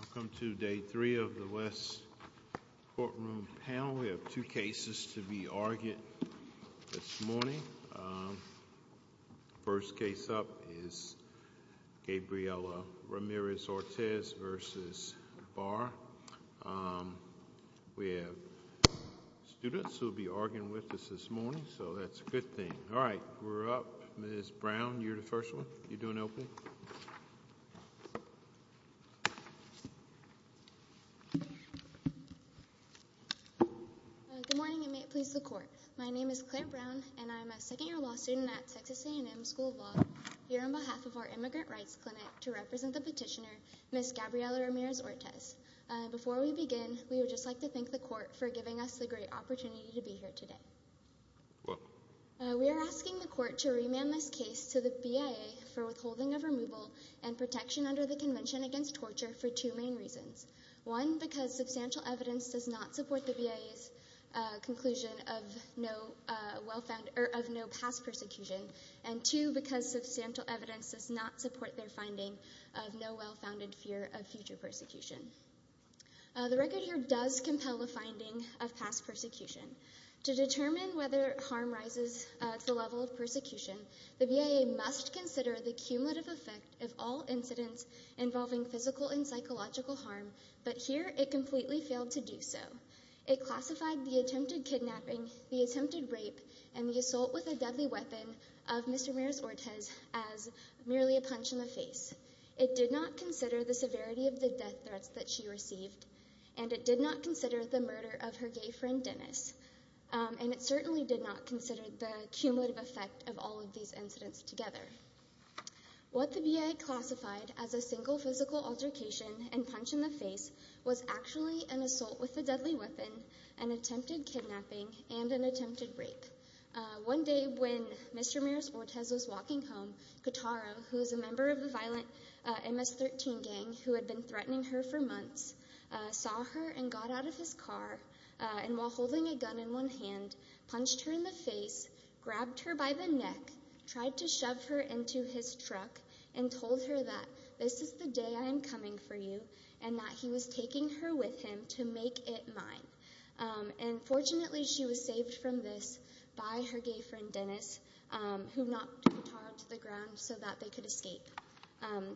Welcome to Day 3 of the West Courtroom Panel. We have two cases to be argued this morning. First case up is Gabriella Ramirez-Ortez v. Barr. We have students who will be arguing with us this morning, so that's a good thing. All right, we're up. Ms. Brown, you're the first one. You're doing open. Good morning, and may it please the Court. My name is Claire Brown, and I'm a second-year law student at Texas A&M School of Law, here on behalf of our Immigrant Rights Clinic to represent the petitioner, Ms. Gabriella Ramirez-Ortez. Before we begin, we would just like to thank the Court for giving us the great opportunity to be here today. We are asking the Court to remand this case to the BIA for withholding of removal and protection under the Convention Against Torture for two main reasons. One, because substantial evidence does not support the BIA's conclusion of no past persecution, and two, because substantial evidence does not support their finding of no well-founded fear of future persecution. The record here does compel the finding of past persecution. To determine whether harm rises to the level of persecution, the BIA must consider the cumulative effect of all incidents involving physical and psychological harm, but here it completely failed to do so. It classified the attempted kidnapping, the attempted rape, and the assault with a deadly weapon of Ms. Ramirez-Ortez as merely a punch in the face. It did not consider the severity of the death threats that she received, and it did not consider the murder of her gay friend, Dennis, and it certainly did not consider the cumulative effect of all of these incidents together. What the BIA classified as a single physical altercation and punch in the face was actually an assault with a deadly weapon, an attempted kidnapping, and an attempted rape. One day when Mr. Ramirez-Ortez was walking home, Katara, who was a member of the violent MS-13 gang who had been threatening her for months, saw her and got out of his car, and while holding a gun in one hand, punched her in the face, grabbed her by the neck, tried to shove her into his truck, and told her that this is the day I am coming for you and that he was taking her with him to make it mine. And fortunately, she was saved from this by her gay friend, Dennis, who knocked Katara to the ground so that they could escape.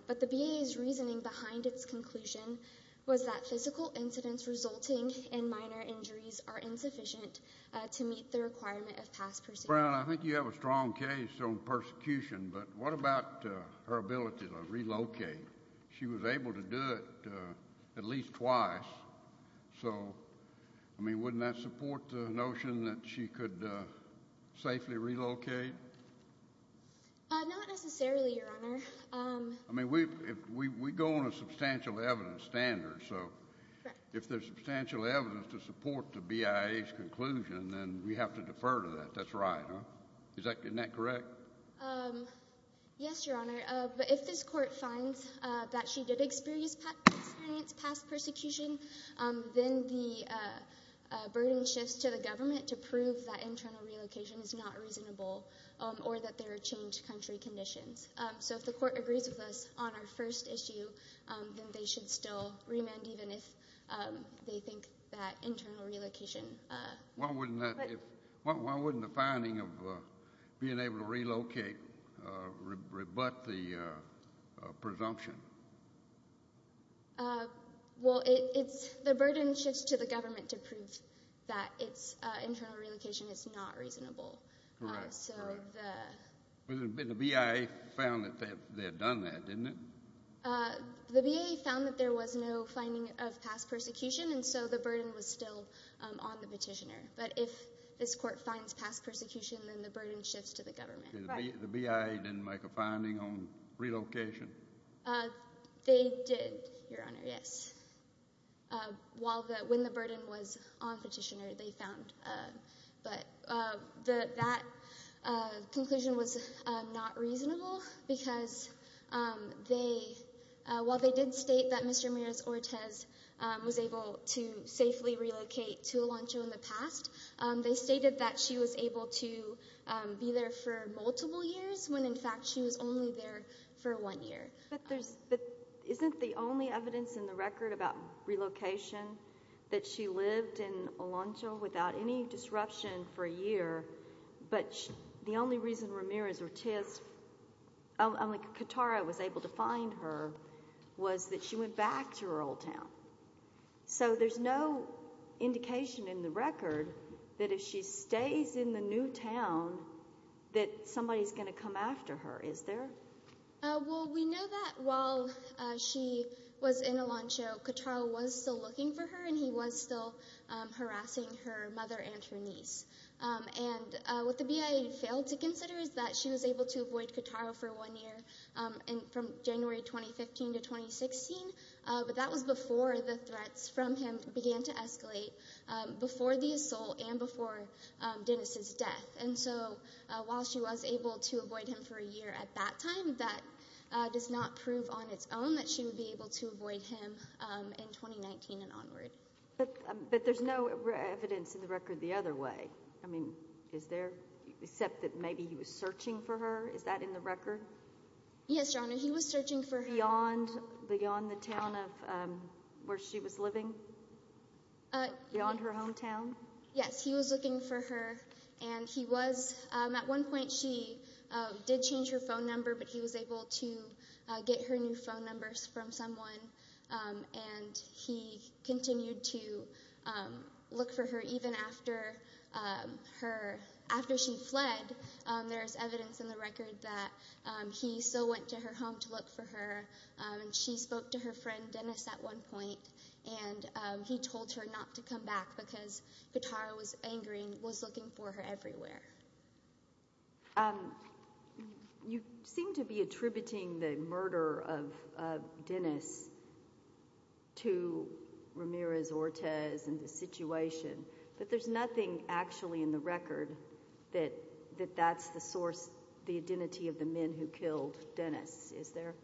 But the BIA's reasoning behind its conclusion was that physical incidents resulting in minor injuries are insufficient to meet the requirement of past proceedings. Your Honor, I think you have a strong case on persecution, but what about her ability to relocate? She was able to do it at least twice. So, I mean, wouldn't that support the notion that she could safely relocate? Not necessarily, Your Honor. I mean, we go on a substantial evidence standard, so if there's substantial evidence to support the BIA's conclusion, then we have to defer to that. That's right, huh? Isn't that correct? Yes, Your Honor. But if this Court finds that she did experience past persecution, then the burden shifts to the government to prove that internal relocation is not reasonable or that there are changed country conditions. So if the Court agrees with us on our first issue, then they should still remand even if they think that internal relocation… Why wouldn't the finding of being able to relocate rebut the presumption? Well, the burden shifts to the government to prove that internal relocation is not reasonable. Correct, correct. But the BIA found that they had done that, didn't it? The BIA found that there was no finding of past persecution, and so the burden was still on the petitioner. But if this Court finds past persecution, then the burden shifts to the government. The BIA didn't make a finding on relocation? They did, Your Honor, yes. When the burden was on petitioner, they found. But that conclusion was not reasonable because while they did state that Mr. Miros-Ortiz was able to safely relocate to Elancho in the past, they stated that she was able to be there for multiple years when in fact she was only there for one year. But isn't the only evidence in the record about relocation that she lived in Elancho without any disruption for a year, but the only reason Ramirez-Ortiz, only Katara was able to find her, was that she went back to her old town? So there's no indication in the record that if she stays in the new town that somebody is going to come after her, is there? Well, we know that while she was in Elancho, Katara was still looking for her and he was still harassing her mother and her niece. And what the BIA failed to consider is that she was able to avoid Katara for one year from January 2015 to 2016, but that was before the threats from him began to escalate, before the assault and before Dennis's death. And so while she was able to avoid him for a year at that time, that does not prove on its own that she would be able to avoid him in 2019 and onward. But there's no evidence in the record the other way, except that maybe he was searching for her? Is that in the record? Yes, Your Honor, he was searching for her. Beyond the town where she was living? Beyond her hometown? Yes, he was looking for her and he was, at one point she did change her phone number, but he was able to get her new phone numbers from someone. And he continued to look for her even after her, after she fled, there's evidence in the record that he still went to her home to look for her. She spoke to her friend Dennis at one point and he told her not to come back because Katara was angry and was looking for her everywhere. You seem to be attributing the murder of Dennis to Ramirez-Ortiz and the situation, but there's nothing actually in the record that that's the source, the identity of the men who killed Dennis, is there?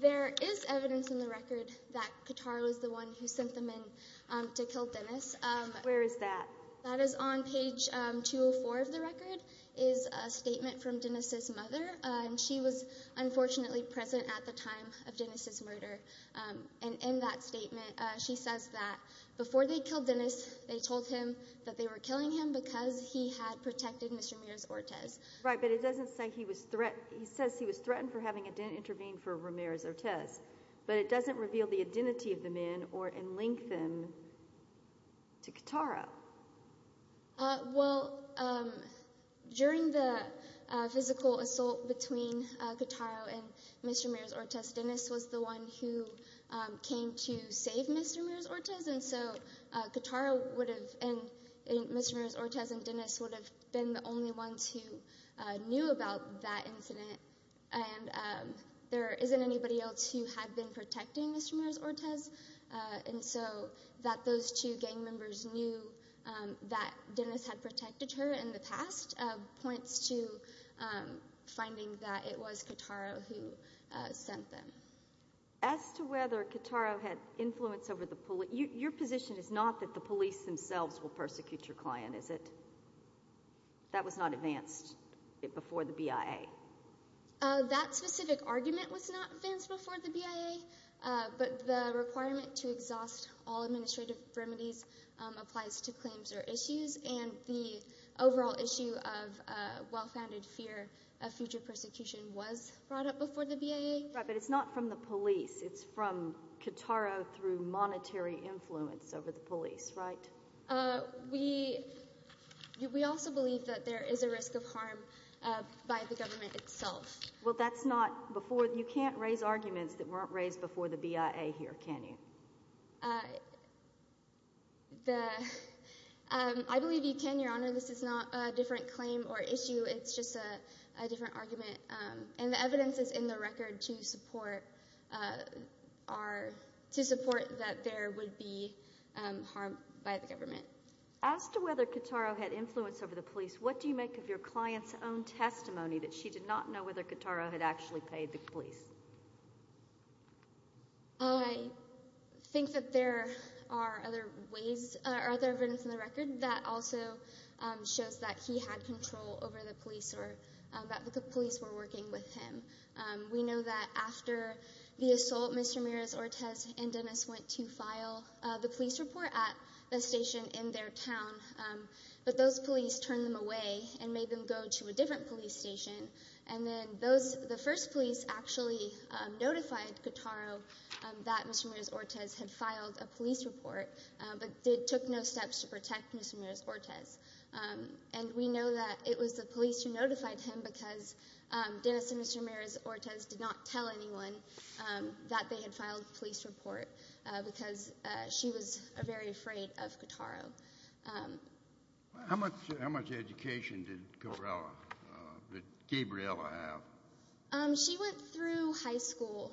There is evidence in the record that Katara was the one who sent the men to kill Dennis. Where is that? That is on page 204 of the record, is a statement from Dennis' mother, and she was unfortunately present at the time of Dennis' murder. And in that statement, she says that before they killed Dennis, they told him that they were killing him because he had protected Mr. Ramirez-Ortiz. Right, but it doesn't say he was threatened, he says he was threatened for having intervened for Ramirez-Ortiz, but it doesn't reveal the identity of the men or link them to Katara. Well, during the physical assault between Katara and Mr. Ramirez-Ortiz, Dennis was the one who came to save Mr. Ramirez-Ortiz, and so Katara would have, and Mr. Ramirez-Ortiz and Dennis would have been the only ones who knew about that incident. And there isn't anybody else who had been protecting Mr. Ramirez-Ortiz, and so that those two gang members knew that Dennis had protected her in the past points to finding that it was Katara who sent them. As to whether Katara had influence over the police, your position is not that the police themselves will persecute your client, is it? That was not advanced before the BIA. That specific argument was not advanced before the BIA, but the requirement to exhaust all administrative remedies applies to claims or issues, and the overall issue of well-founded fear of future persecution was brought up before the BIA. Right, but it's not from the police. It's from Katara through monetary influence over the police, right? We also believe that there is a risk of harm by the government itself. Well, that's not before – you can't raise arguments that weren't raised before the BIA here, can you? I believe you can, Your Honor. This is not a different claim or issue. It's just a different argument, and the evidence is in the record to support that there would be harm by the government. As to whether Katara had influence over the police, what do you make of your client's own testimony that she did not know whether Katara had actually paid the police? I think that there are other ways – other evidence in the record that also shows that he had control over the police or that the police were working with him. We know that after the assault, Mr. Ramirez-Ortiz and Dennis went to file the police report at a station in their town, but those police turned them away and made them go to a different police station. And then those – the first police actually notified Katara that Mr. Ramirez-Ortiz had filed a police report, but they took no steps to protect Mr. Ramirez-Ortiz. And we know that it was the police who notified him because Dennis and Mr. Ramirez-Ortiz did not tell anyone that they had filed a police report because she was very afraid of Katara. How much education did Gabriella have? She went through high school.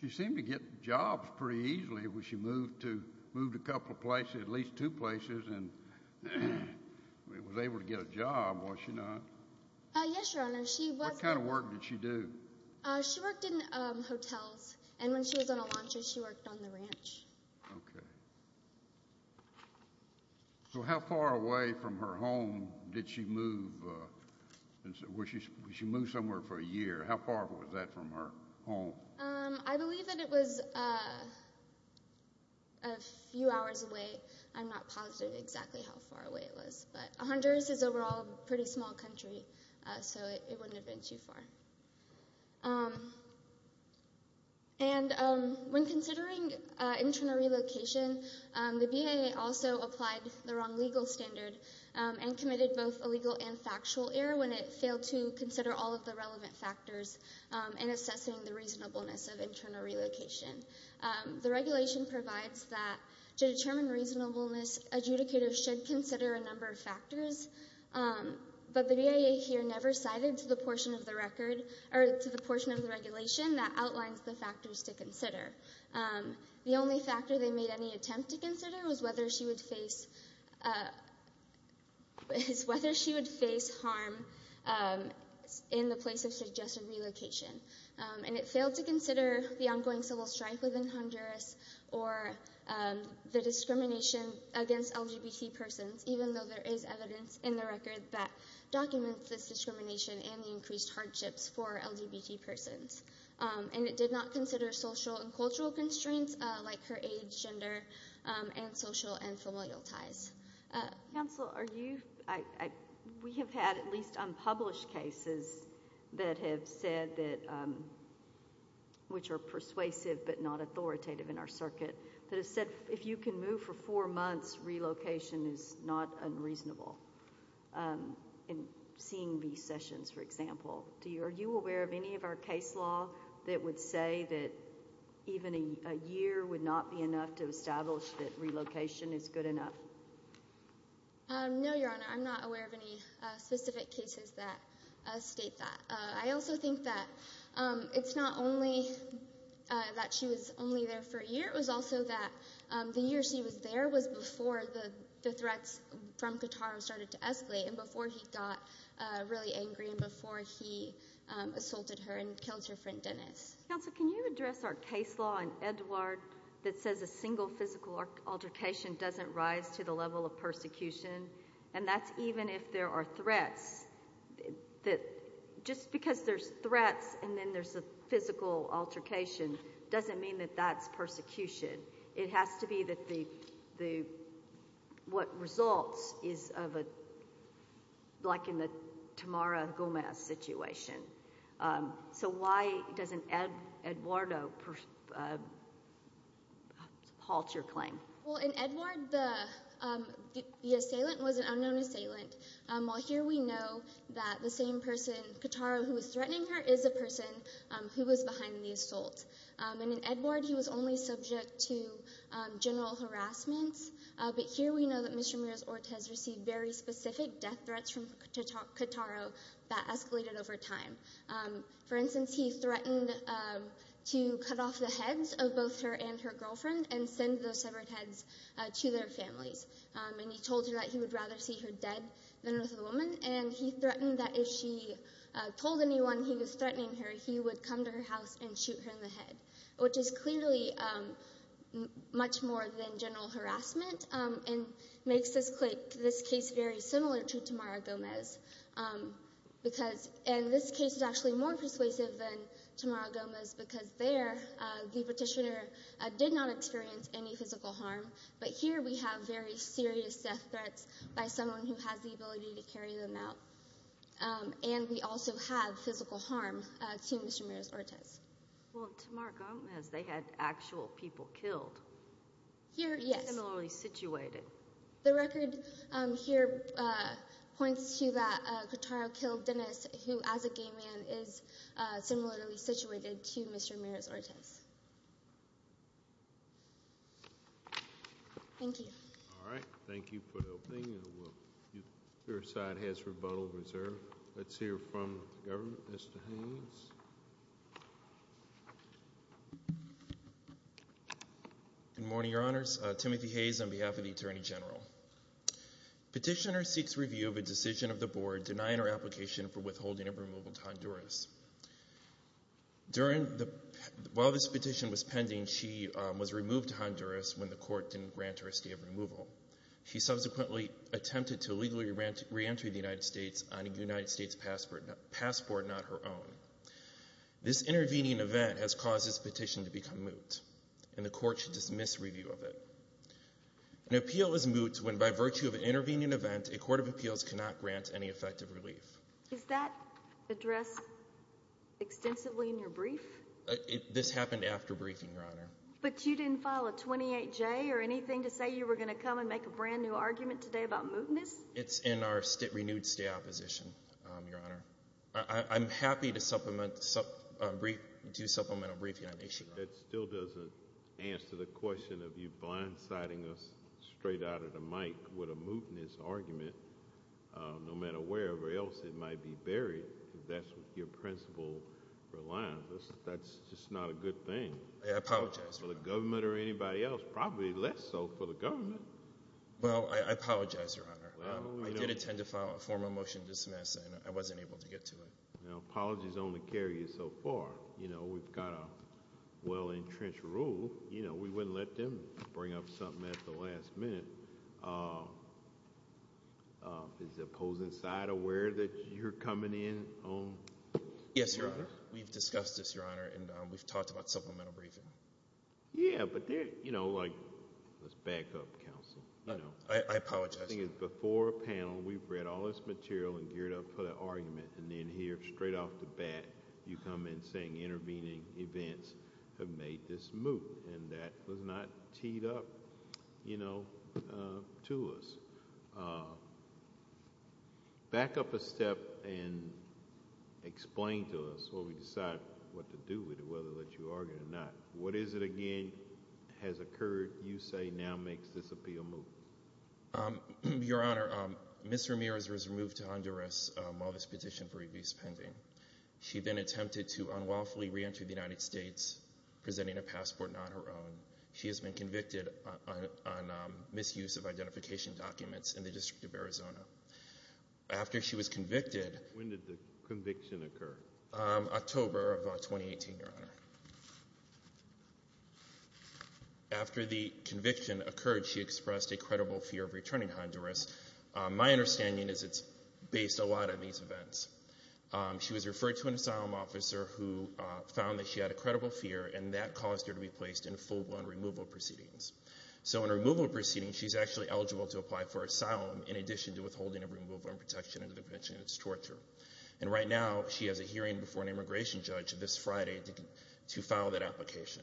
She seemed to get jobs pretty easily. She moved a couple of places, at least two places, and was able to get a job, was she not? Yes, Your Honor. What kind of work did she do? She worked in hotels, and when she was on a luncheon, she worked on the ranch. Okay. So how far away from her home did she move? She moved somewhere for a year. How far was that from her home? I believe that it was a few hours away. I'm not positive exactly how far away it was, but Honduras is overall a pretty small country, so it wouldn't have been too far. And when considering internal relocation, the BIA also applied the wrong legal standard and committed both a legal and factual error when it failed to consider all of the relevant factors in assessing the reasonableness of internal relocation. The regulation provides that to determine reasonableness, adjudicators should consider a number of factors, but the BIA here never cited to the portion of the record or to the portion of the regulation that outlines the factors to consider. The only factor they made any attempt to consider was whether she would face harm in the place of suggested relocation. And it failed to consider the ongoing civil strife within Honduras or the discrimination against LGBT persons, even though there is evidence in the record that documents this discrimination and the increased hardships for LGBT persons. And it did not consider social and cultural constraints like her age, gender, and social and familial ties. Counsel, are you, we have had at least unpublished cases that have said that, which are persuasive but not authoritative in our circuit, that have said if you can move for four months, relocation is not unreasonable. In seeing these sessions, for example, are you aware of any of our case law that would say that even a year would not be enough to establish that relocation is good enough? No, Your Honor, I'm not aware of any specific cases that state that. I also think that it's not only that she was only there for a year, it was also that the year she was there was before the threats from Qatar started to escalate and before he got really angry and before he assaulted her and killed her friend Dennis. Counsel, can you address our case law in Edouard that says a single physical altercation doesn't rise to the level of persecution? And that's even if there are threats, just because there's threats and then there's a physical altercation doesn't mean that that's persecution. It has to be that the, what results is of a, like in the Tamara Gomez situation. So why doesn't Edouard halt your claim? Well, in Edouard, the assailant was an unknown assailant. While here we know that the same person, Katara, who was threatening her is a person who was behind the assault. And in Edouard, he was only subject to general harassment. But here we know that Mr. Ramirez-Ortiz received very specific death threats from Katara that escalated over time. For instance, he threatened to cut off the heads of both her and her girlfriend and send those severed heads to their families. And he told her that he would rather see her dead than with a woman. And he threatened that if she told anyone he was threatening her, he would come to her house and shoot her in the head. Which is clearly much more than general harassment and makes this case very similar to Tamara Gomez. Because, and this case is actually more persuasive than Tamara Gomez because there the petitioner did not experience any physical harm. But here we have very serious death threats by someone who has the ability to carry them out. And we also have physical harm to Mr. Ramirez-Ortiz. Well, in Tamara Gomez, they had actual people killed. Here, yes. Similarly situated. The record here points to that Katara killed Dennis who, as a gay man, is similarly situated to Mr. Ramirez-Ortiz. Thank you. All right. Thank you for helping. Your side has rebuttal reserved. Let's hear from the government. Mr. Hayes. Good morning, Your Honors. Timothy Hayes on behalf of the Attorney General. Petitioner seeks review of a decision of the board denying her application for withholding of removal to Honduras. While this petition was pending, she was removed to Honduras when the court didn't grant her a stay of removal. She subsequently attempted to legally re-enter the United States on a United States passport, not her own. This intervening event has caused this petition to become moot, and the court should dismiss review of it. An appeal is moot when, by virtue of an intervening event, a court of appeals cannot grant any effective relief. Is that addressed extensively in your brief? This happened after briefing, Your Honor. But you didn't file a 28-J or anything to say you were going to come and make a brand-new argument today about mootness? It's in our renewed stay opposition, Your Honor. I'm happy to supplement a brief, Your Honor. That still doesn't answer the question of you blindsiding us straight out of the mic with a mootness argument, no matter where else it might be buried, because that's what your principle relies on. That's just not a good thing. I apologize, Your Honor. For the government or anybody else, probably less so for the government. Well, I apologize, Your Honor. I did attend to file a formal motion to dismiss, and I wasn't able to get to it. Apologies only carry you so far. We've got a well-entrenched rule. We wouldn't let them bring up something at the last minute. Is the opposing side aware that you're coming in on mootness? Yes, Your Honor. We've discussed this, Your Honor, and we've talked about supplemental briefing. Yeah, but let's back up, counsel. I apologize. The thing is, before a panel, we've read all this material and geared up for the argument, and then here, straight off the bat, you come in saying intervening events have made this moot, and that was not teed up to us. Back up a step and explain to us what we decided what to do with it, whether that you argued it or not. What is it again has occurred you say now makes this appeal moot? Your Honor, Ms. Ramirez was removed to Honduras while this petition for review is pending. She then attempted to unlawfully re-enter the United States, presenting a passport not her own. She has been convicted on misuse of identification documents in the District of Arizona. After she was convicted. When did the conviction occur? October of 2018, Your Honor. After the conviction occurred, she expressed a credible fear of returning to Honduras. My understanding is it's based a lot on these events. She was referred to an asylum officer who found that she had a credible fear, and that caused her to be placed in full-blown removal proceedings. So in removal proceedings, she's actually eligible to apply for asylum, in addition to withholding a removal and protection under the conviction of torture. And right now, she has a hearing before an immigration judge this Friday to file that application.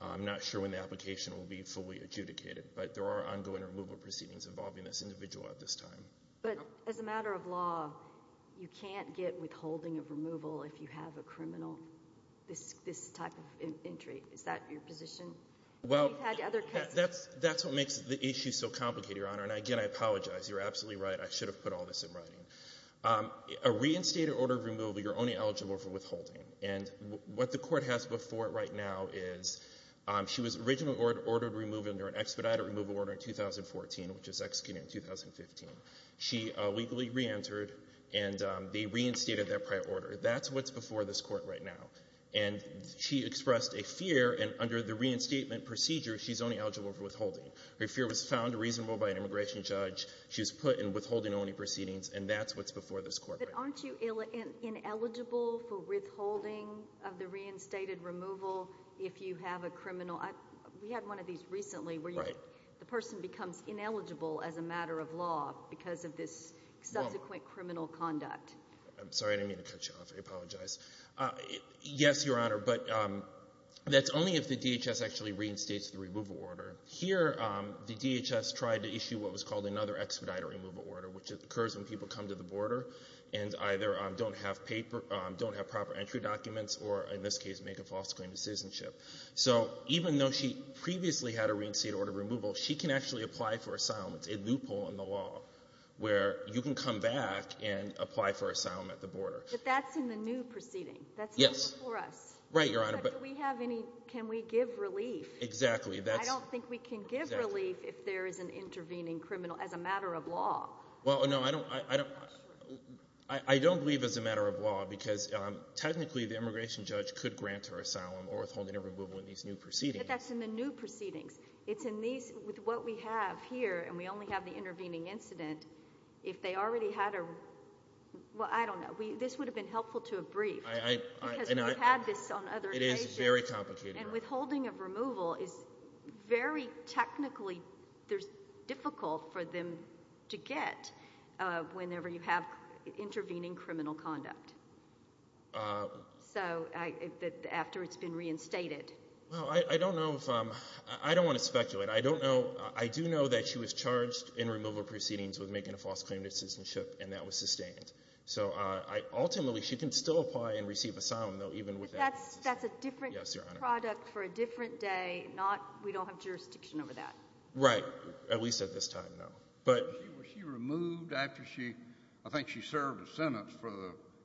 I'm not sure when the application will be fully adjudicated, but there are ongoing removal proceedings involving this individual at this time. But as a matter of law, you can't get withholding of removal if you have a criminal, this type of injury. Is that your position? That's what makes the issue so complicated, Your Honor. And again, I apologize. You're absolutely right. I should have put all this in writing. A reinstated order of removal, you're only eligible for withholding. And what the Court has before it right now is she was originally ordered removal under an expedited removal order in 2014, which was executed in 2015. She legally reentered, and they reinstated that prior order. That's what's before this Court right now. And she expressed a fear, and under the reinstatement procedure, she's only eligible for withholding. Her fear was found reasonable by an immigration judge. She was put in withholding-only proceedings, and that's what's before this Court right now. But aren't you ineligible for withholding of the reinstated removal if you have a criminal? We had one of these recently where the person becomes ineligible as a matter of law because of this subsequent criminal conduct. I'm sorry. I didn't mean to cut you off. I apologize. Yes, Your Honor, but that's only if the DHS actually reinstates the removal order. Here, the DHS tried to issue what was called another expedited removal order, which occurs when people come to the border and either don't have proper entry documents or, in this case, make a false claim of citizenship. So even though she previously had a reinstated order of removal, she can actually apply for asylum. It's a loophole in the law where you can come back and apply for asylum at the border. But that's in the new proceeding. Yes. That's new before us. Right, Your Honor. But do we have any – can we give relief? Exactly. I don't think we can give relief if there is an intervening criminal as a matter of law. Well, no, I don't believe as a matter of law because technically the immigration judge could grant her asylum or withholding of removal in these new proceedings. But that's in the new proceedings. It's in these – with what we have here, and we only have the intervening incident, if they already had a – well, I don't know. This would have been helpful to have briefed because we've had this on other cases. It is very complicated. And withholding of removal is very technically difficult for them to get whenever you have intervening criminal conduct. So after it's been reinstated. Well, I don't know if – I don't want to speculate. I don't know – I do know that she was charged in removal proceedings with making a false claim to citizenship, and that was sustained. So ultimately she can still apply and receive asylum, though, even with that. But that's a different product for a different day, not – we don't have jurisdiction over that. Right. At least at this time, no. But – Was she removed after she – I think she served a sentence for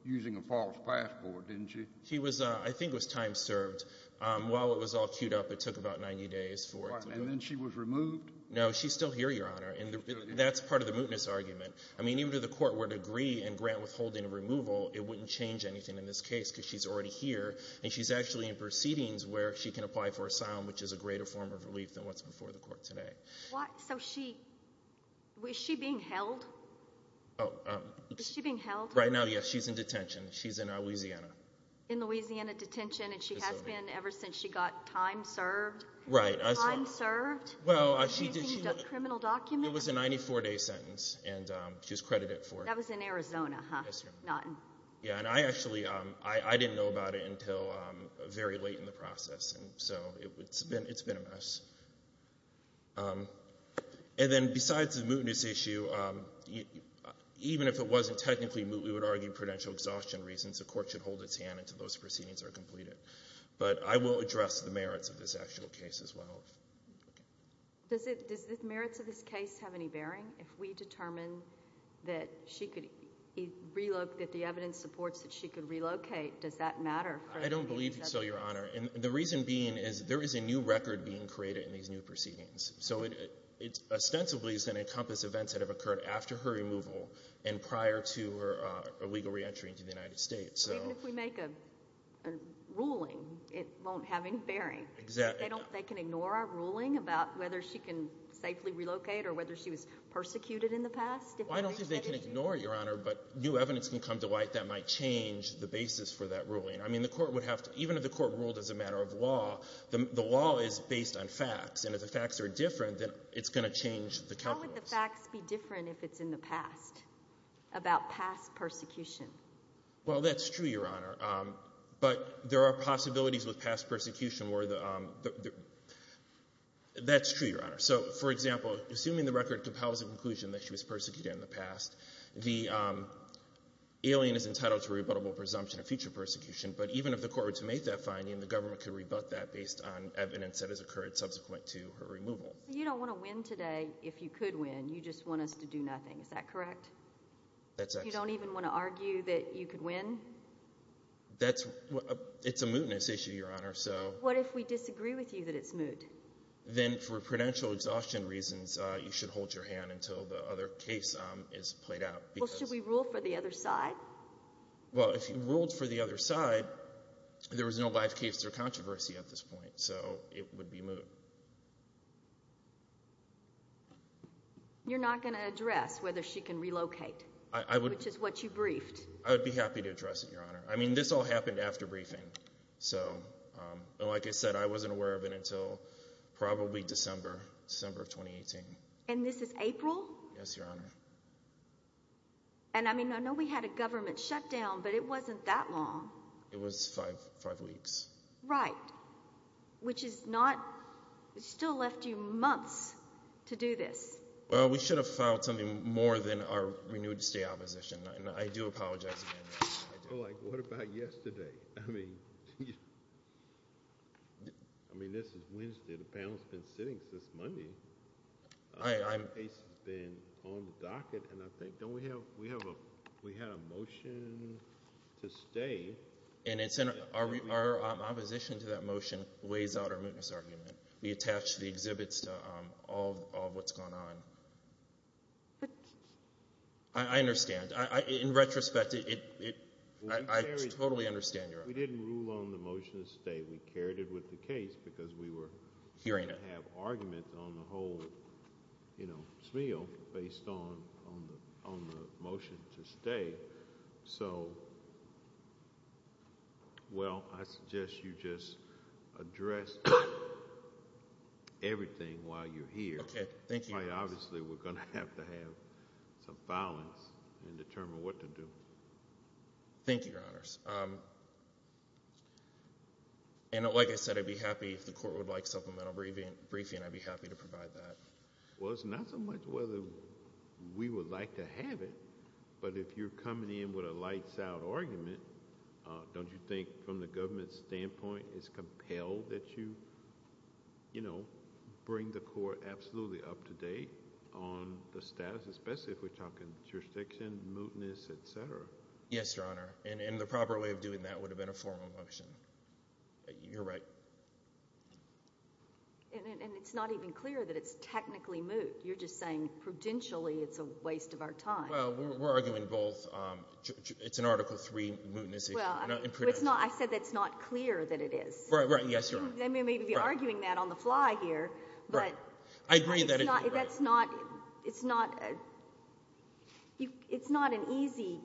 using a false passport, didn't she? She was – I think it was time served. While it was all queued up, it took about 90 days for it to – And then she was removed? No, she's still here, Your Honor. And that's part of the mootness argument. I mean, even if the court were to agree and grant withholding of removal, it wouldn't change anything in this case because she's already here, and she's actually in proceedings where she can apply for asylum, which is a greater form of relief than what's before the court today. So she – is she being held? Is she being held? Right now, yes. She's in detention. She's in Louisiana. In Louisiana detention, and she has been ever since she got time served? Right. Time served? Well, she did – Using a criminal document? It was a 94-day sentence, and she was credited for it. That was in Arizona, huh? Yes, Your Honor. Yeah, and I actually – I didn't know about it until very late in the process. And so it's been a mess. And then besides the mootness issue, even if it wasn't technically moot, we would argue prudential exhaustion reasons. The court should hold its hand until those proceedings are completed. But I will address the merits of this actual case as well. Does the merits of this case have any bearing? If we determine that she could – that the evidence supports that she could relocate, does that matter? I don't believe so, Your Honor. And the reason being is there is a new record being created in these new proceedings. So it ostensibly is going to encompass events that have occurred after her removal and prior to her illegal reentry into the United States. Even if we make a ruling, it won't have any bearing. Exactly. They can ignore our ruling about whether she can safely relocate or whether she was persecuted in the past? I don't think they can ignore it, Your Honor, but new evidence can come to light that might change the basis for that ruling. I mean, the court would have to – even if the court ruled as a matter of law, the law is based on facts. And if the facts are different, then it's going to change the calculus. How would the facts be different if it's in the past about past persecution? Well, that's true, Your Honor. But there are possibilities with past persecution where the – that's true, Your Honor. So, for example, assuming the record compels the conclusion that she was persecuted in the past, the alien is entitled to rebuttable presumption of future persecution. But even if the court were to make that finding, the government could rebut that based on evidence that has occurred subsequent to her removal. So you don't want to win today if you could win. You just want us to do nothing, is that correct? That's right. What if you don't even want to argue that you could win? That's – it's a mootness issue, Your Honor. What if we disagree with you that it's moot? Then for prudential exhaustion reasons, you should hold your hand until the other case is played out. Well, should we rule for the other side? Well, if you ruled for the other side, there was no live case or controversy at this point. So it would be moot. You're not going to address whether she can relocate? I would. Which is what you briefed. I would be happy to address it, Your Honor. I mean, this all happened after briefing. So, like I said, I wasn't aware of it until probably December, December of 2018. And this is April? Yes, Your Honor. And, I mean, I know we had a government shutdown, but it wasn't that long. It was five weeks. Right, which is not – still left you months to do this. Well, we should have filed something more than our renewed stay opposition. And I do apologize, Your Honor. But, like, what about yesterday? I mean, this is Wednesday. The panel has been sitting since Monday. The case has been on the docket. And I think, don't we have a motion to stay? And our opposition to that motion weighs out our mootness argument. We attach the exhibits to all of what's going on. I understand. In retrospect, I totally understand, Your Honor. We didn't rule on the motion to stay. We carried it with the case because we were going to have arguments on the whole, you know, smeal based on the motion to stay. So, well, I suggest you just address everything while you're here. Okay. Thank you. Because, obviously, we're going to have to have some filings and determine what to do. Thank you, Your Honors. And, like I said, I'd be happy if the court would like supplemental briefing. I'd be happy to provide that. Well, it's not so much whether we would like to have it, but if you're coming in with a lights out argument, don't you think from the government's standpoint it's compelled that you, you know, bring the court absolutely up to date on the status, especially if we're talking jurisdiction, mootness, et cetera? Yes, Your Honor. And the proper way of doing that would have been a formal motion. You're right. And it's not even clear that it's technically moot. You're just saying prudentially it's a waste of our time. Well, we're arguing both. It's an Article III mootness. Well, I said that it's not clear that it is. Right, right. Yes, Your Honor. They may be arguing that on the fly here, but it's not an easy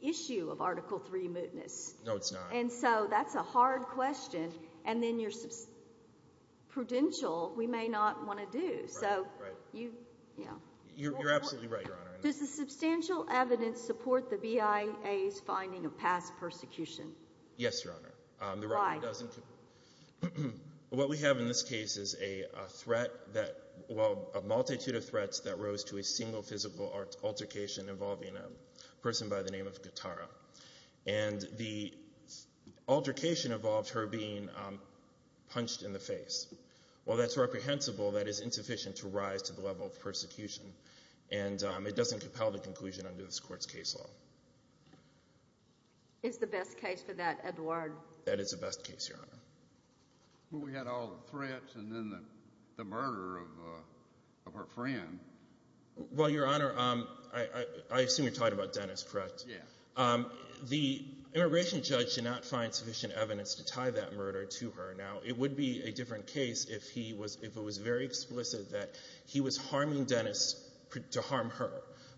issue of Article III mootness. No, it's not. And so that's a hard question. And then your prudential, we may not want to do. Right, right. You're absolutely right, Your Honor. Does the substantial evidence support the BIA's finding of past persecution? Yes, Your Honor. Why? What we have in this case is a threat that, well, a multitude of threats that rose to a single physical altercation involving a person by the name of Katara. And the altercation involved her being punched in the face. While that's reprehensible, that is insufficient to rise to the level of persecution. And it doesn't compel the conclusion under this Court's case law. It's the best case for that, Edward. That is the best case, Your Honor. Well, we had all the threats and then the murder of her friend. Well, Your Honor, I assume you're talking about Dennis, correct? Yes. The immigration judge did not find sufficient evidence to tie that murder to her. Now, it would be a different case if he was ‑‑ if it was very explicit that he was harming Dennis to harm her.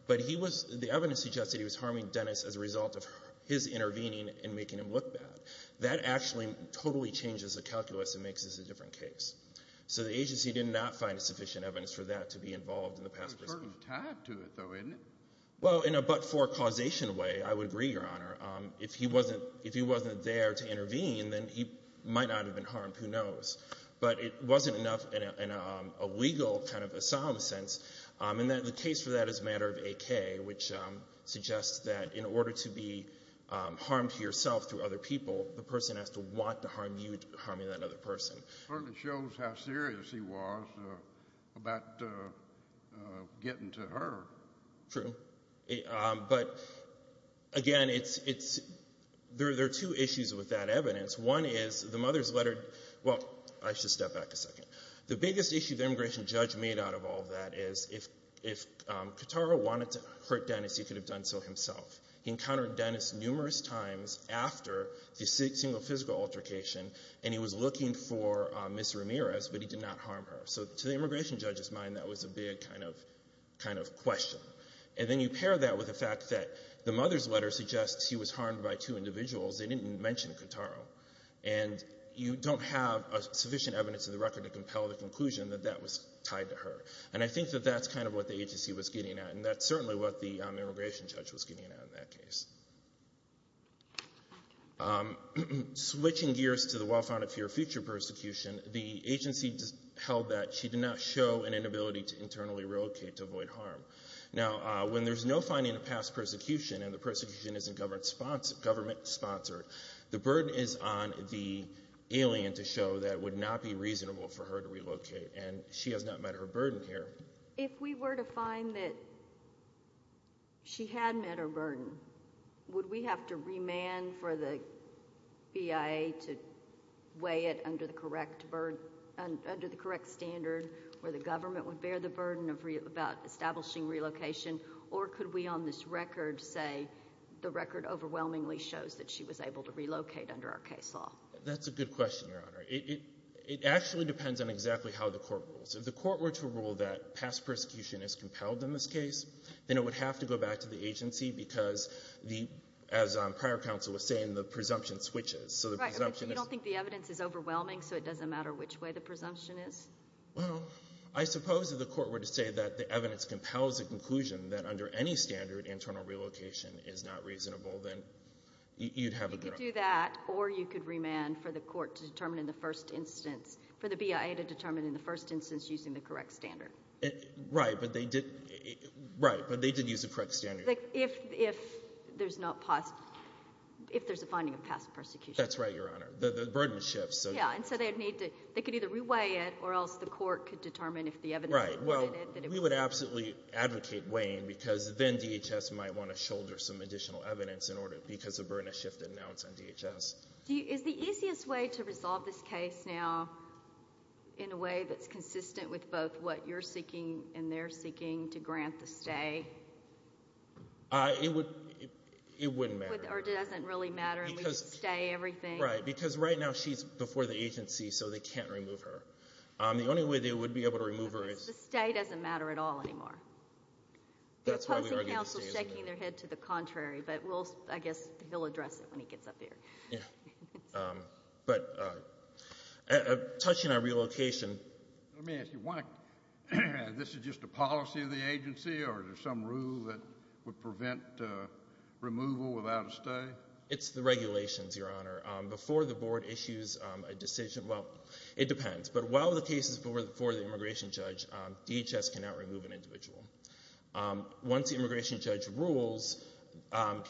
But he was ‑‑ the evidence suggests that he was harming Dennis as a result of his intervening and making him look bad. That actually totally changes the calculus and makes this a different case. So the agency did not find sufficient evidence for that to be involved in the past persecution. It's hard to tie it to it, though, isn't it? Well, in a but‑for causation way, I would agree, Your Honor. If he wasn't there to intervene, then he might not have been harmed. Who knows? But it wasn't enough in a legal kind of asylum sense. And the case for that is a matter of AK, which suggests that in order to be harmed yourself through other people, the person has to want to harm you harming that other person. It certainly shows how serious he was about getting to her. True. But, again, it's ‑‑ there are two issues with that evidence. One is the mother's letter ‑‑ well, I should step back a second. The biggest issue the immigration judge made out of all that is if Katara wanted to hurt Dennis, he could have done so himself. He encountered Dennis numerous times after the single physical altercation, and he was looking for Ms. Ramirez, but he did not harm her. So to the immigration judge's mind, that was a big kind of question. And then you pair that with the fact that the mother's letter suggests he was harmed by two individuals. They didn't mention Katara. And you don't have sufficient evidence in the record to compel the conclusion that that was tied to her. And I think that that's kind of what the agency was getting at, and that's certainly what the immigration judge was getting at in that case. Switching gears to the well-founded fear of future persecution, the agency held that she did not show an inability to internally relocate to avoid harm. Now, when there's no finding of past persecution and the persecution isn't government‑sponsored, the burden is on the alien to show that it would not be reasonable for her to relocate, and she has not met her burden here. If we were to find that she had met her burden, would we have to remand for the BIA to weigh it under the correct standard where the government would bear the burden about establishing relocation, or could we on this record say the record overwhelmingly shows that she was able to relocate under our case law? That's a good question, Your Honor. It actually depends on exactly how the court rules. If the court were to rule that past persecution is compelled in this case, then it would have to go back to the agency because, as prior counsel was saying, the presumption switches. Right, but you don't think the evidence is overwhelming, so it doesn't matter which way the presumption is? Well, I suppose if the court were to say that the evidence compels the conclusion that under any standard internal relocation is not reasonable, then you'd have a good idea. You could do that, or you could remand for the court to determine in the first instance, for the BIA to determine in the first instance using the correct standard. Right, but they did use the correct standard. If there's a finding of past persecution. That's right, Your Honor. The burden shifts. Yeah, and so they could either re-weigh it or else the court could determine if the evidence would weigh it. Right, well, we would absolutely advocate weighing because then DHS might want to shoulder some additional evidence because of burden of shift announced on DHS. Is the easiest way to resolve this case now in a way that's consistent with both what you're seeking and they're seeking to grant the stay? It wouldn't matter. Or it doesn't really matter and we could stay everything? Right, because right now she's before the agency, so they can't remove her. The only way they would be able to remove her is— The stay doesn't matter at all anymore. They're posing counsel shaking their head to the contrary, but I guess he'll address it when he gets up here. Yeah, but touching on relocation— Let me ask you, this is just a policy of the agency or is there some rule that would prevent removal without a stay? It's the regulations, Your Honor. Before the board issues a decision—well, it depends. But while the case is before the immigration judge, DHS cannot remove an individual. Once the immigration judge rules and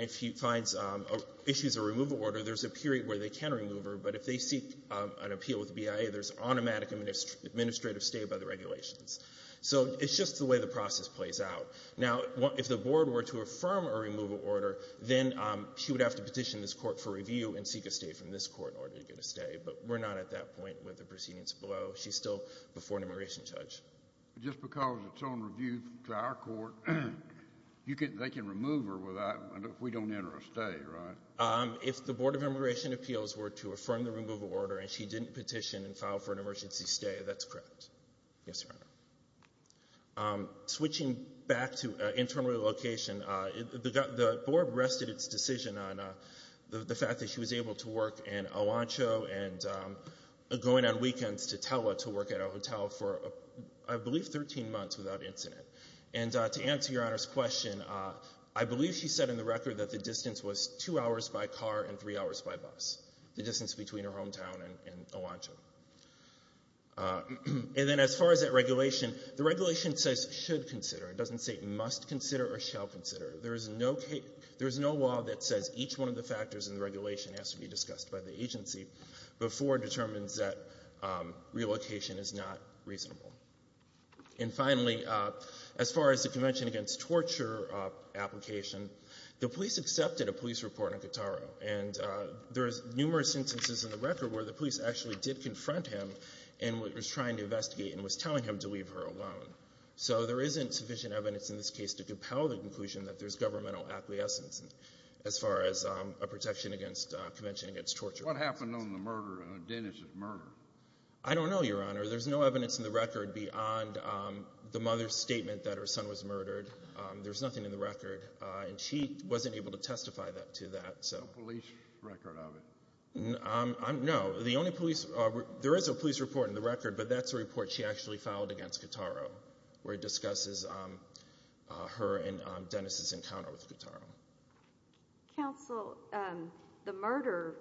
if he finds—issues a removal order, there's a period where they can remove her. But if they seek an appeal with BIA, there's automatic administrative stay by the regulations. So it's just the way the process plays out. Now, if the board were to affirm a removal order, then she would have to petition this court for review and seek a stay from this court in order to get a stay. But we're not at that point with the proceedings below. She's still before an immigration judge. Just because it's on review to our court, they can remove her without—if we don't enter a stay, right? If the Board of Immigration Appeals were to affirm the removal order and she didn't petition and file for an emergency stay, that's correct. Yes, Your Honor. Switching back to internal relocation, the board rested its decision on the fact that she was able to work in Alancho and going on weekends to Tella to work at a hotel for, I believe, 13 months without incident. And to answer Your Honor's question, I believe she said in the record that the distance was two hours by car and three hours by bus, the distance between her hometown and Alancho. And then as far as that regulation, the regulation says should consider. It doesn't say must consider or shall consider. There is no law that says each one of the factors in the regulation has to be discussed by the agency before it determines that relocation is not reasonable. And finally, as far as the Convention Against Torture application, the police accepted a police report on Gattaro. And there are numerous instances in the record where the police actually did confront him and was trying to investigate and was telling him to leave her alone. So there isn't sufficient evidence in this case to compel the conclusion that there's governmental acquiescence as far as a protection against Convention Against Torture. What happened on the murder, Dennis's murder? I don't know, Your Honor. There's no evidence in the record beyond the mother's statement that her son was murdered. There's nothing in the record. And she wasn't able to testify to that. No police record of it? No. There is a police report in the record, but that's a report she actually filed against Gattaro where it discusses her and Dennis's encounter with Gattaro. Counsel, the murder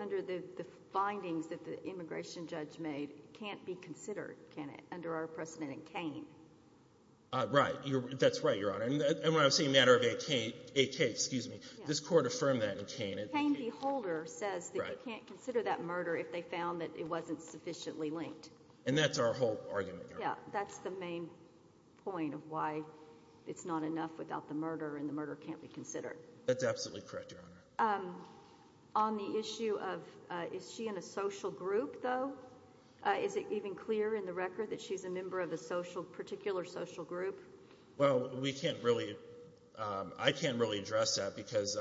under the findings that the immigration judge made can't be considered, can it, under our precedent in Kane? Right. That's right, Your Honor. And when I'm saying matter of AK, this court affirmed that in Kane. Kane v. Holder says that you can't consider that murder if they found that it wasn't sufficiently linked. And that's our whole argument, Your Honor. Yeah, that's the main point of why it's not enough without the murder and the murder can't be considered. That's absolutely correct, Your Honor. On the issue of is she in a social group, though, is it even clear in the record that she's a member of a particular social group? Well, we can't really, I can't really address that because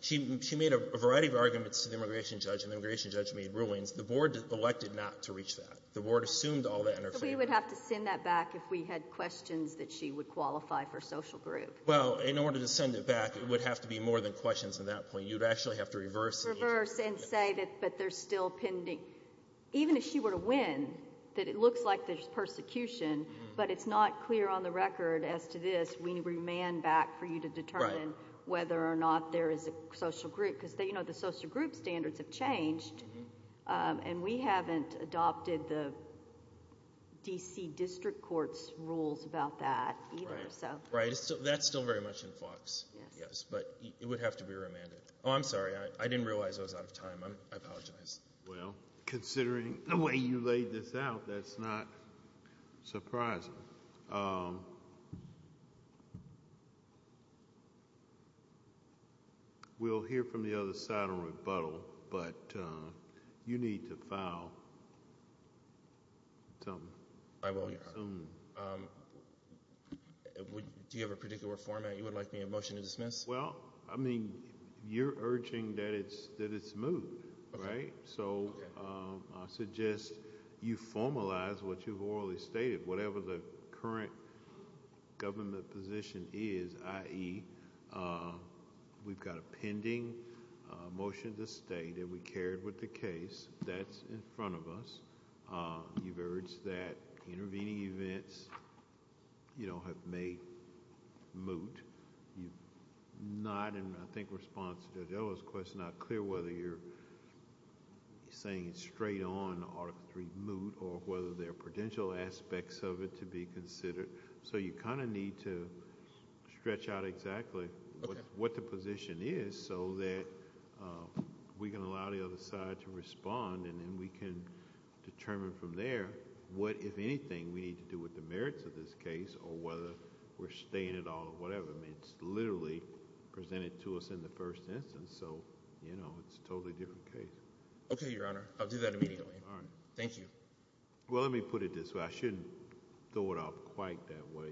she made a variety of arguments to the immigration judge, and the immigration judge made rulings. The board elected not to reach that. The board assumed all that in her favor. So we would have to send that back if we had questions that she would qualify for social group. Well, in order to send it back, it would have to be more than questions at that point. You'd actually have to reverse. Reverse and say that there's still pending. Even if she were to win, that it looks like there's persecution, but it's not clear on the record as to this. We need to remand back for you to determine whether or not there is a social group because the social group standards have changed, and we haven't adopted the D.C. District Court's rules about that either. Right. That's still very much in FOX. Yes. But it would have to be remanded. Oh, I'm sorry. I didn't realize I was out of time. I apologize. Well, considering the way you laid this out, that's not surprising. We'll hear from the other side on rebuttal, but you need to file something soon. I will. Do you have a particular format you would like me to motion to dismiss? Well, I mean, you're urging that it's moot, right? So I suggest you formalize what you've orally stated, whatever the current government position is, i.e., we've got a pending motion to stay that we carried with the case. That's in front of us. You've urged that intervening events, you know, have made moot. You've not, in I think response to Judge Odo's question, not clear whether you're saying it's straight on Article III moot or whether there are potential aspects of it to be considered. So you kind of need to stretch out exactly what the position is so that we can allow the other side to respond and then we can determine from there what, if anything, we need to do with the merits of this case or whether we're staying at all or whatever. I mean, it's literally presented to us in the first instance. So, you know, it's a totally different case. Okay, Your Honor. I'll do that immediately. All right. Thank you. Well, let me put it this way. I shouldn't throw it out quite that way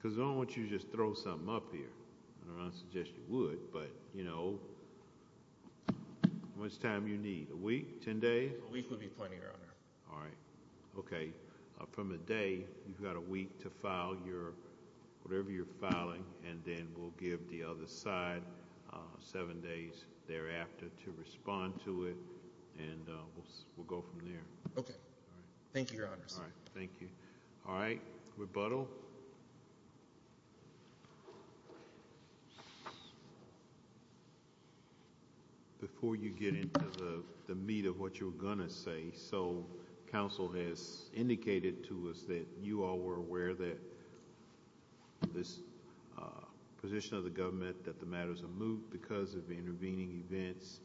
because I don't want you to just throw something up here. I don't suggest you would, but, you know, how much time do you need? A week? Ten days? A week would be plenty, Your Honor. All right. Okay. From a day, you've got a week to file whatever you're filing, and then we'll give the other side seven days thereafter to respond to it, and we'll go from there. Okay. Thank you, Your Honor. All right. Thank you. All right. Rebuttal. Before you get into the meat of what you were going to say, so counsel has indicated to us that you all were aware that this position of the government that the matters are moved because of intervening events.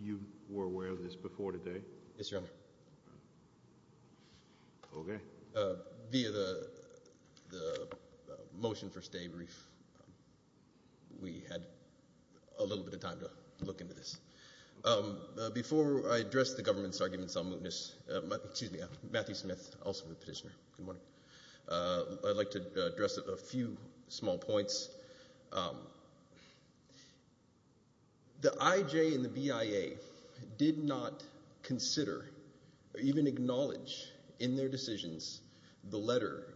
You were aware of this before today? Yes, Your Honor. Okay. Via the motion for stay brief, we had a little bit of time to look into this. Before I address the government's arguments on mootness, excuse me, Matthew Smith, also a petitioner. Good morning. I'd like to address a few small points. The IJ and the BIA did not consider or even acknowledge in their decisions the letter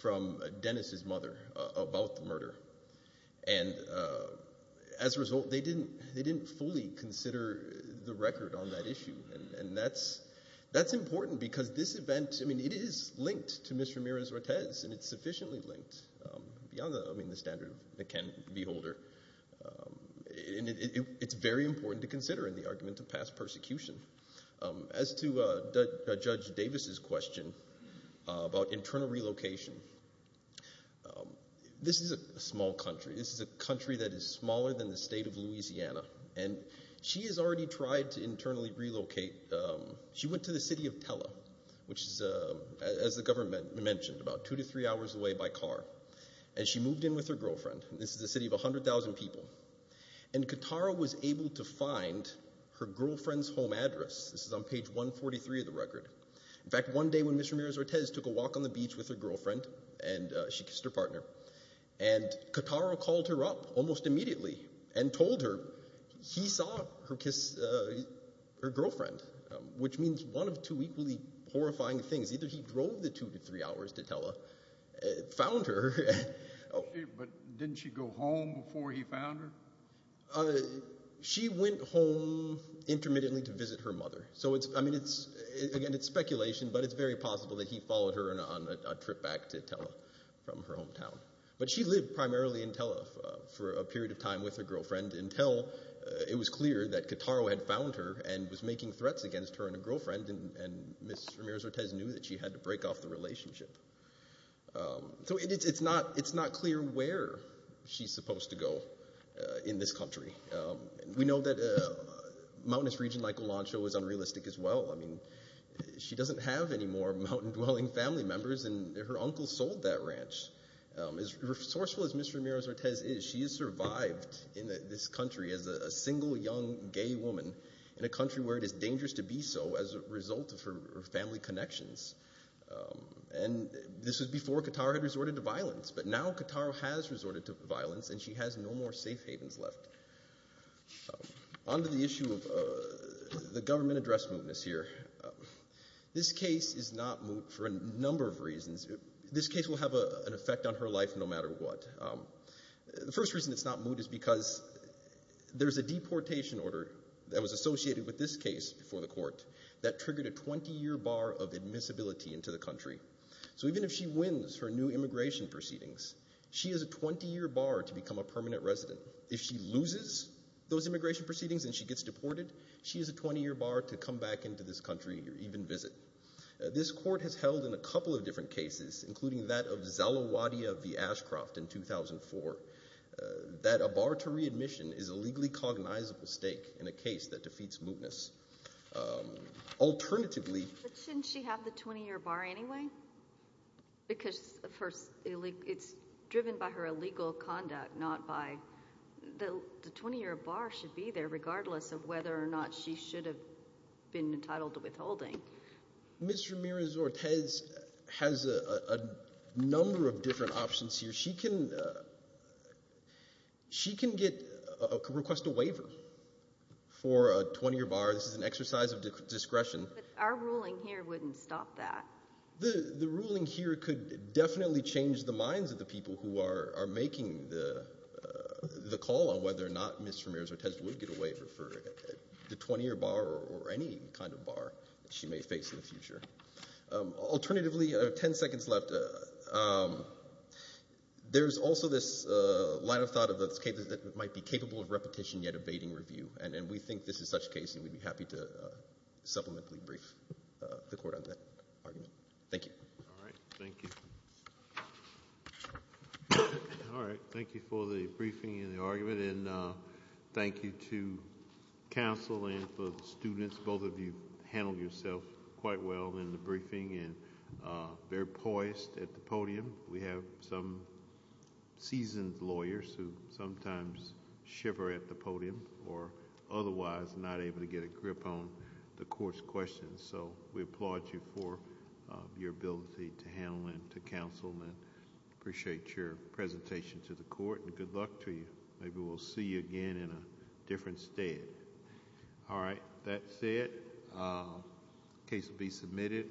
from Dennis' mother about the murder. And as a result, they didn't fully consider the record on that issue, and that's important because this event, I mean, it is linked to Ms. Ramirez-Ortez, and it's sufficiently linked beyond the standard of the can beholder. It's very important to consider in the argument of past persecution. As to Judge Davis' question about internal relocation, this is a small country. This is a country that is smaller than the state of Louisiana, and she has already tried to internally relocate. She went to the city of Tellah, which is, as the government mentioned, about two to three hours away by car. And she moved in with her girlfriend. This is a city of 100,000 people. And Katara was able to find her girlfriend's home address. This is on page 143 of the record. In fact, one day when Ms. Ramirez-Ortez took a walk on the beach with her girlfriend and she kissed her partner, and Katara called her up almost immediately and told her he saw her kiss her girlfriend, which means one of two equally horrifying things. Either he drove the two to three hours to Tellah, found her. But didn't she go home before he found her? She went home intermittently to visit her mother. So, I mean, again, it's speculation, but it's very possible that he followed her on a trip back to Tellah from her hometown. But she lived primarily in Tellah for a period of time with her girlfriend until it was clear that Katara had found her and was making threats against her and her girlfriend. And Ms. Ramirez-Ortez knew that she had to break off the relationship. So it's not clear where she's supposed to go in this country. We know that a mountainous region like Olancho is unrealistic as well. I mean, she doesn't have any more mountain-dwelling family members, and her uncle sold that ranch. As resourceful as Ms. Ramirez-Ortez is, she has survived in this country as a single young gay woman in a country where it is dangerous to be so as a result of her family connections. And this was before Katara had resorted to violence, but now Katara has resorted to violence and she has no more safe havens left. On to the issue of the government address mootness here. This case is not moot for a number of reasons. This case will have an effect on her life no matter what. The first reason it's not moot is because there's a deportation order that was associated with this case before the court that triggered a 20-year bar of admissibility into the country. So even if she wins her new immigration proceedings, she has a 20-year bar to become a permanent resident. If she loses those immigration proceedings and she gets deported, she has a 20-year bar to come back into this country or even visit. This court has held in a couple of different cases, including that of Zalewadia v. Ashcroft in 2004, that a bar to readmission is a legally cognizable stake in a case that defeats mootness. Alternatively— But shouldn't she have the 20-year bar anyway? Because it's driven by her illegal conduct, not by— the 20-year bar should be there regardless of whether or not she should have been entitled to withholding. Ms. Ramirez-Ortiz has a number of different options here. She can request a waiver for a 20-year bar. This is an exercise of discretion. But our ruling here wouldn't stop that. The ruling here could definitely change the minds of the people who are making the call on whether or not Ms. Ramirez-Ortiz would get a waiver for the 20-year bar or any kind of bar that she may face in the future. Alternatively, I have 10 seconds left. There's also this line of thought that might be capable of repetition yet evading review, and we think this is such a case and we'd be happy to supplementary brief the Court on that argument. Thank you. All right. Thank you. Thank you for the briefing and the argument, and thank you to counsel and for the students. Both of you handled yourself quite well in the briefing and very poised at the podium. We have some seasoned lawyers who sometimes shiver at the podium or otherwise not able to get a grip on the Court's questions, so we applaud you for your ability to handle and to counsel and appreciate your presentation to the Court, and good luck to you. Maybe we'll see you again in a different state. All right. That's it. The case will be submitted.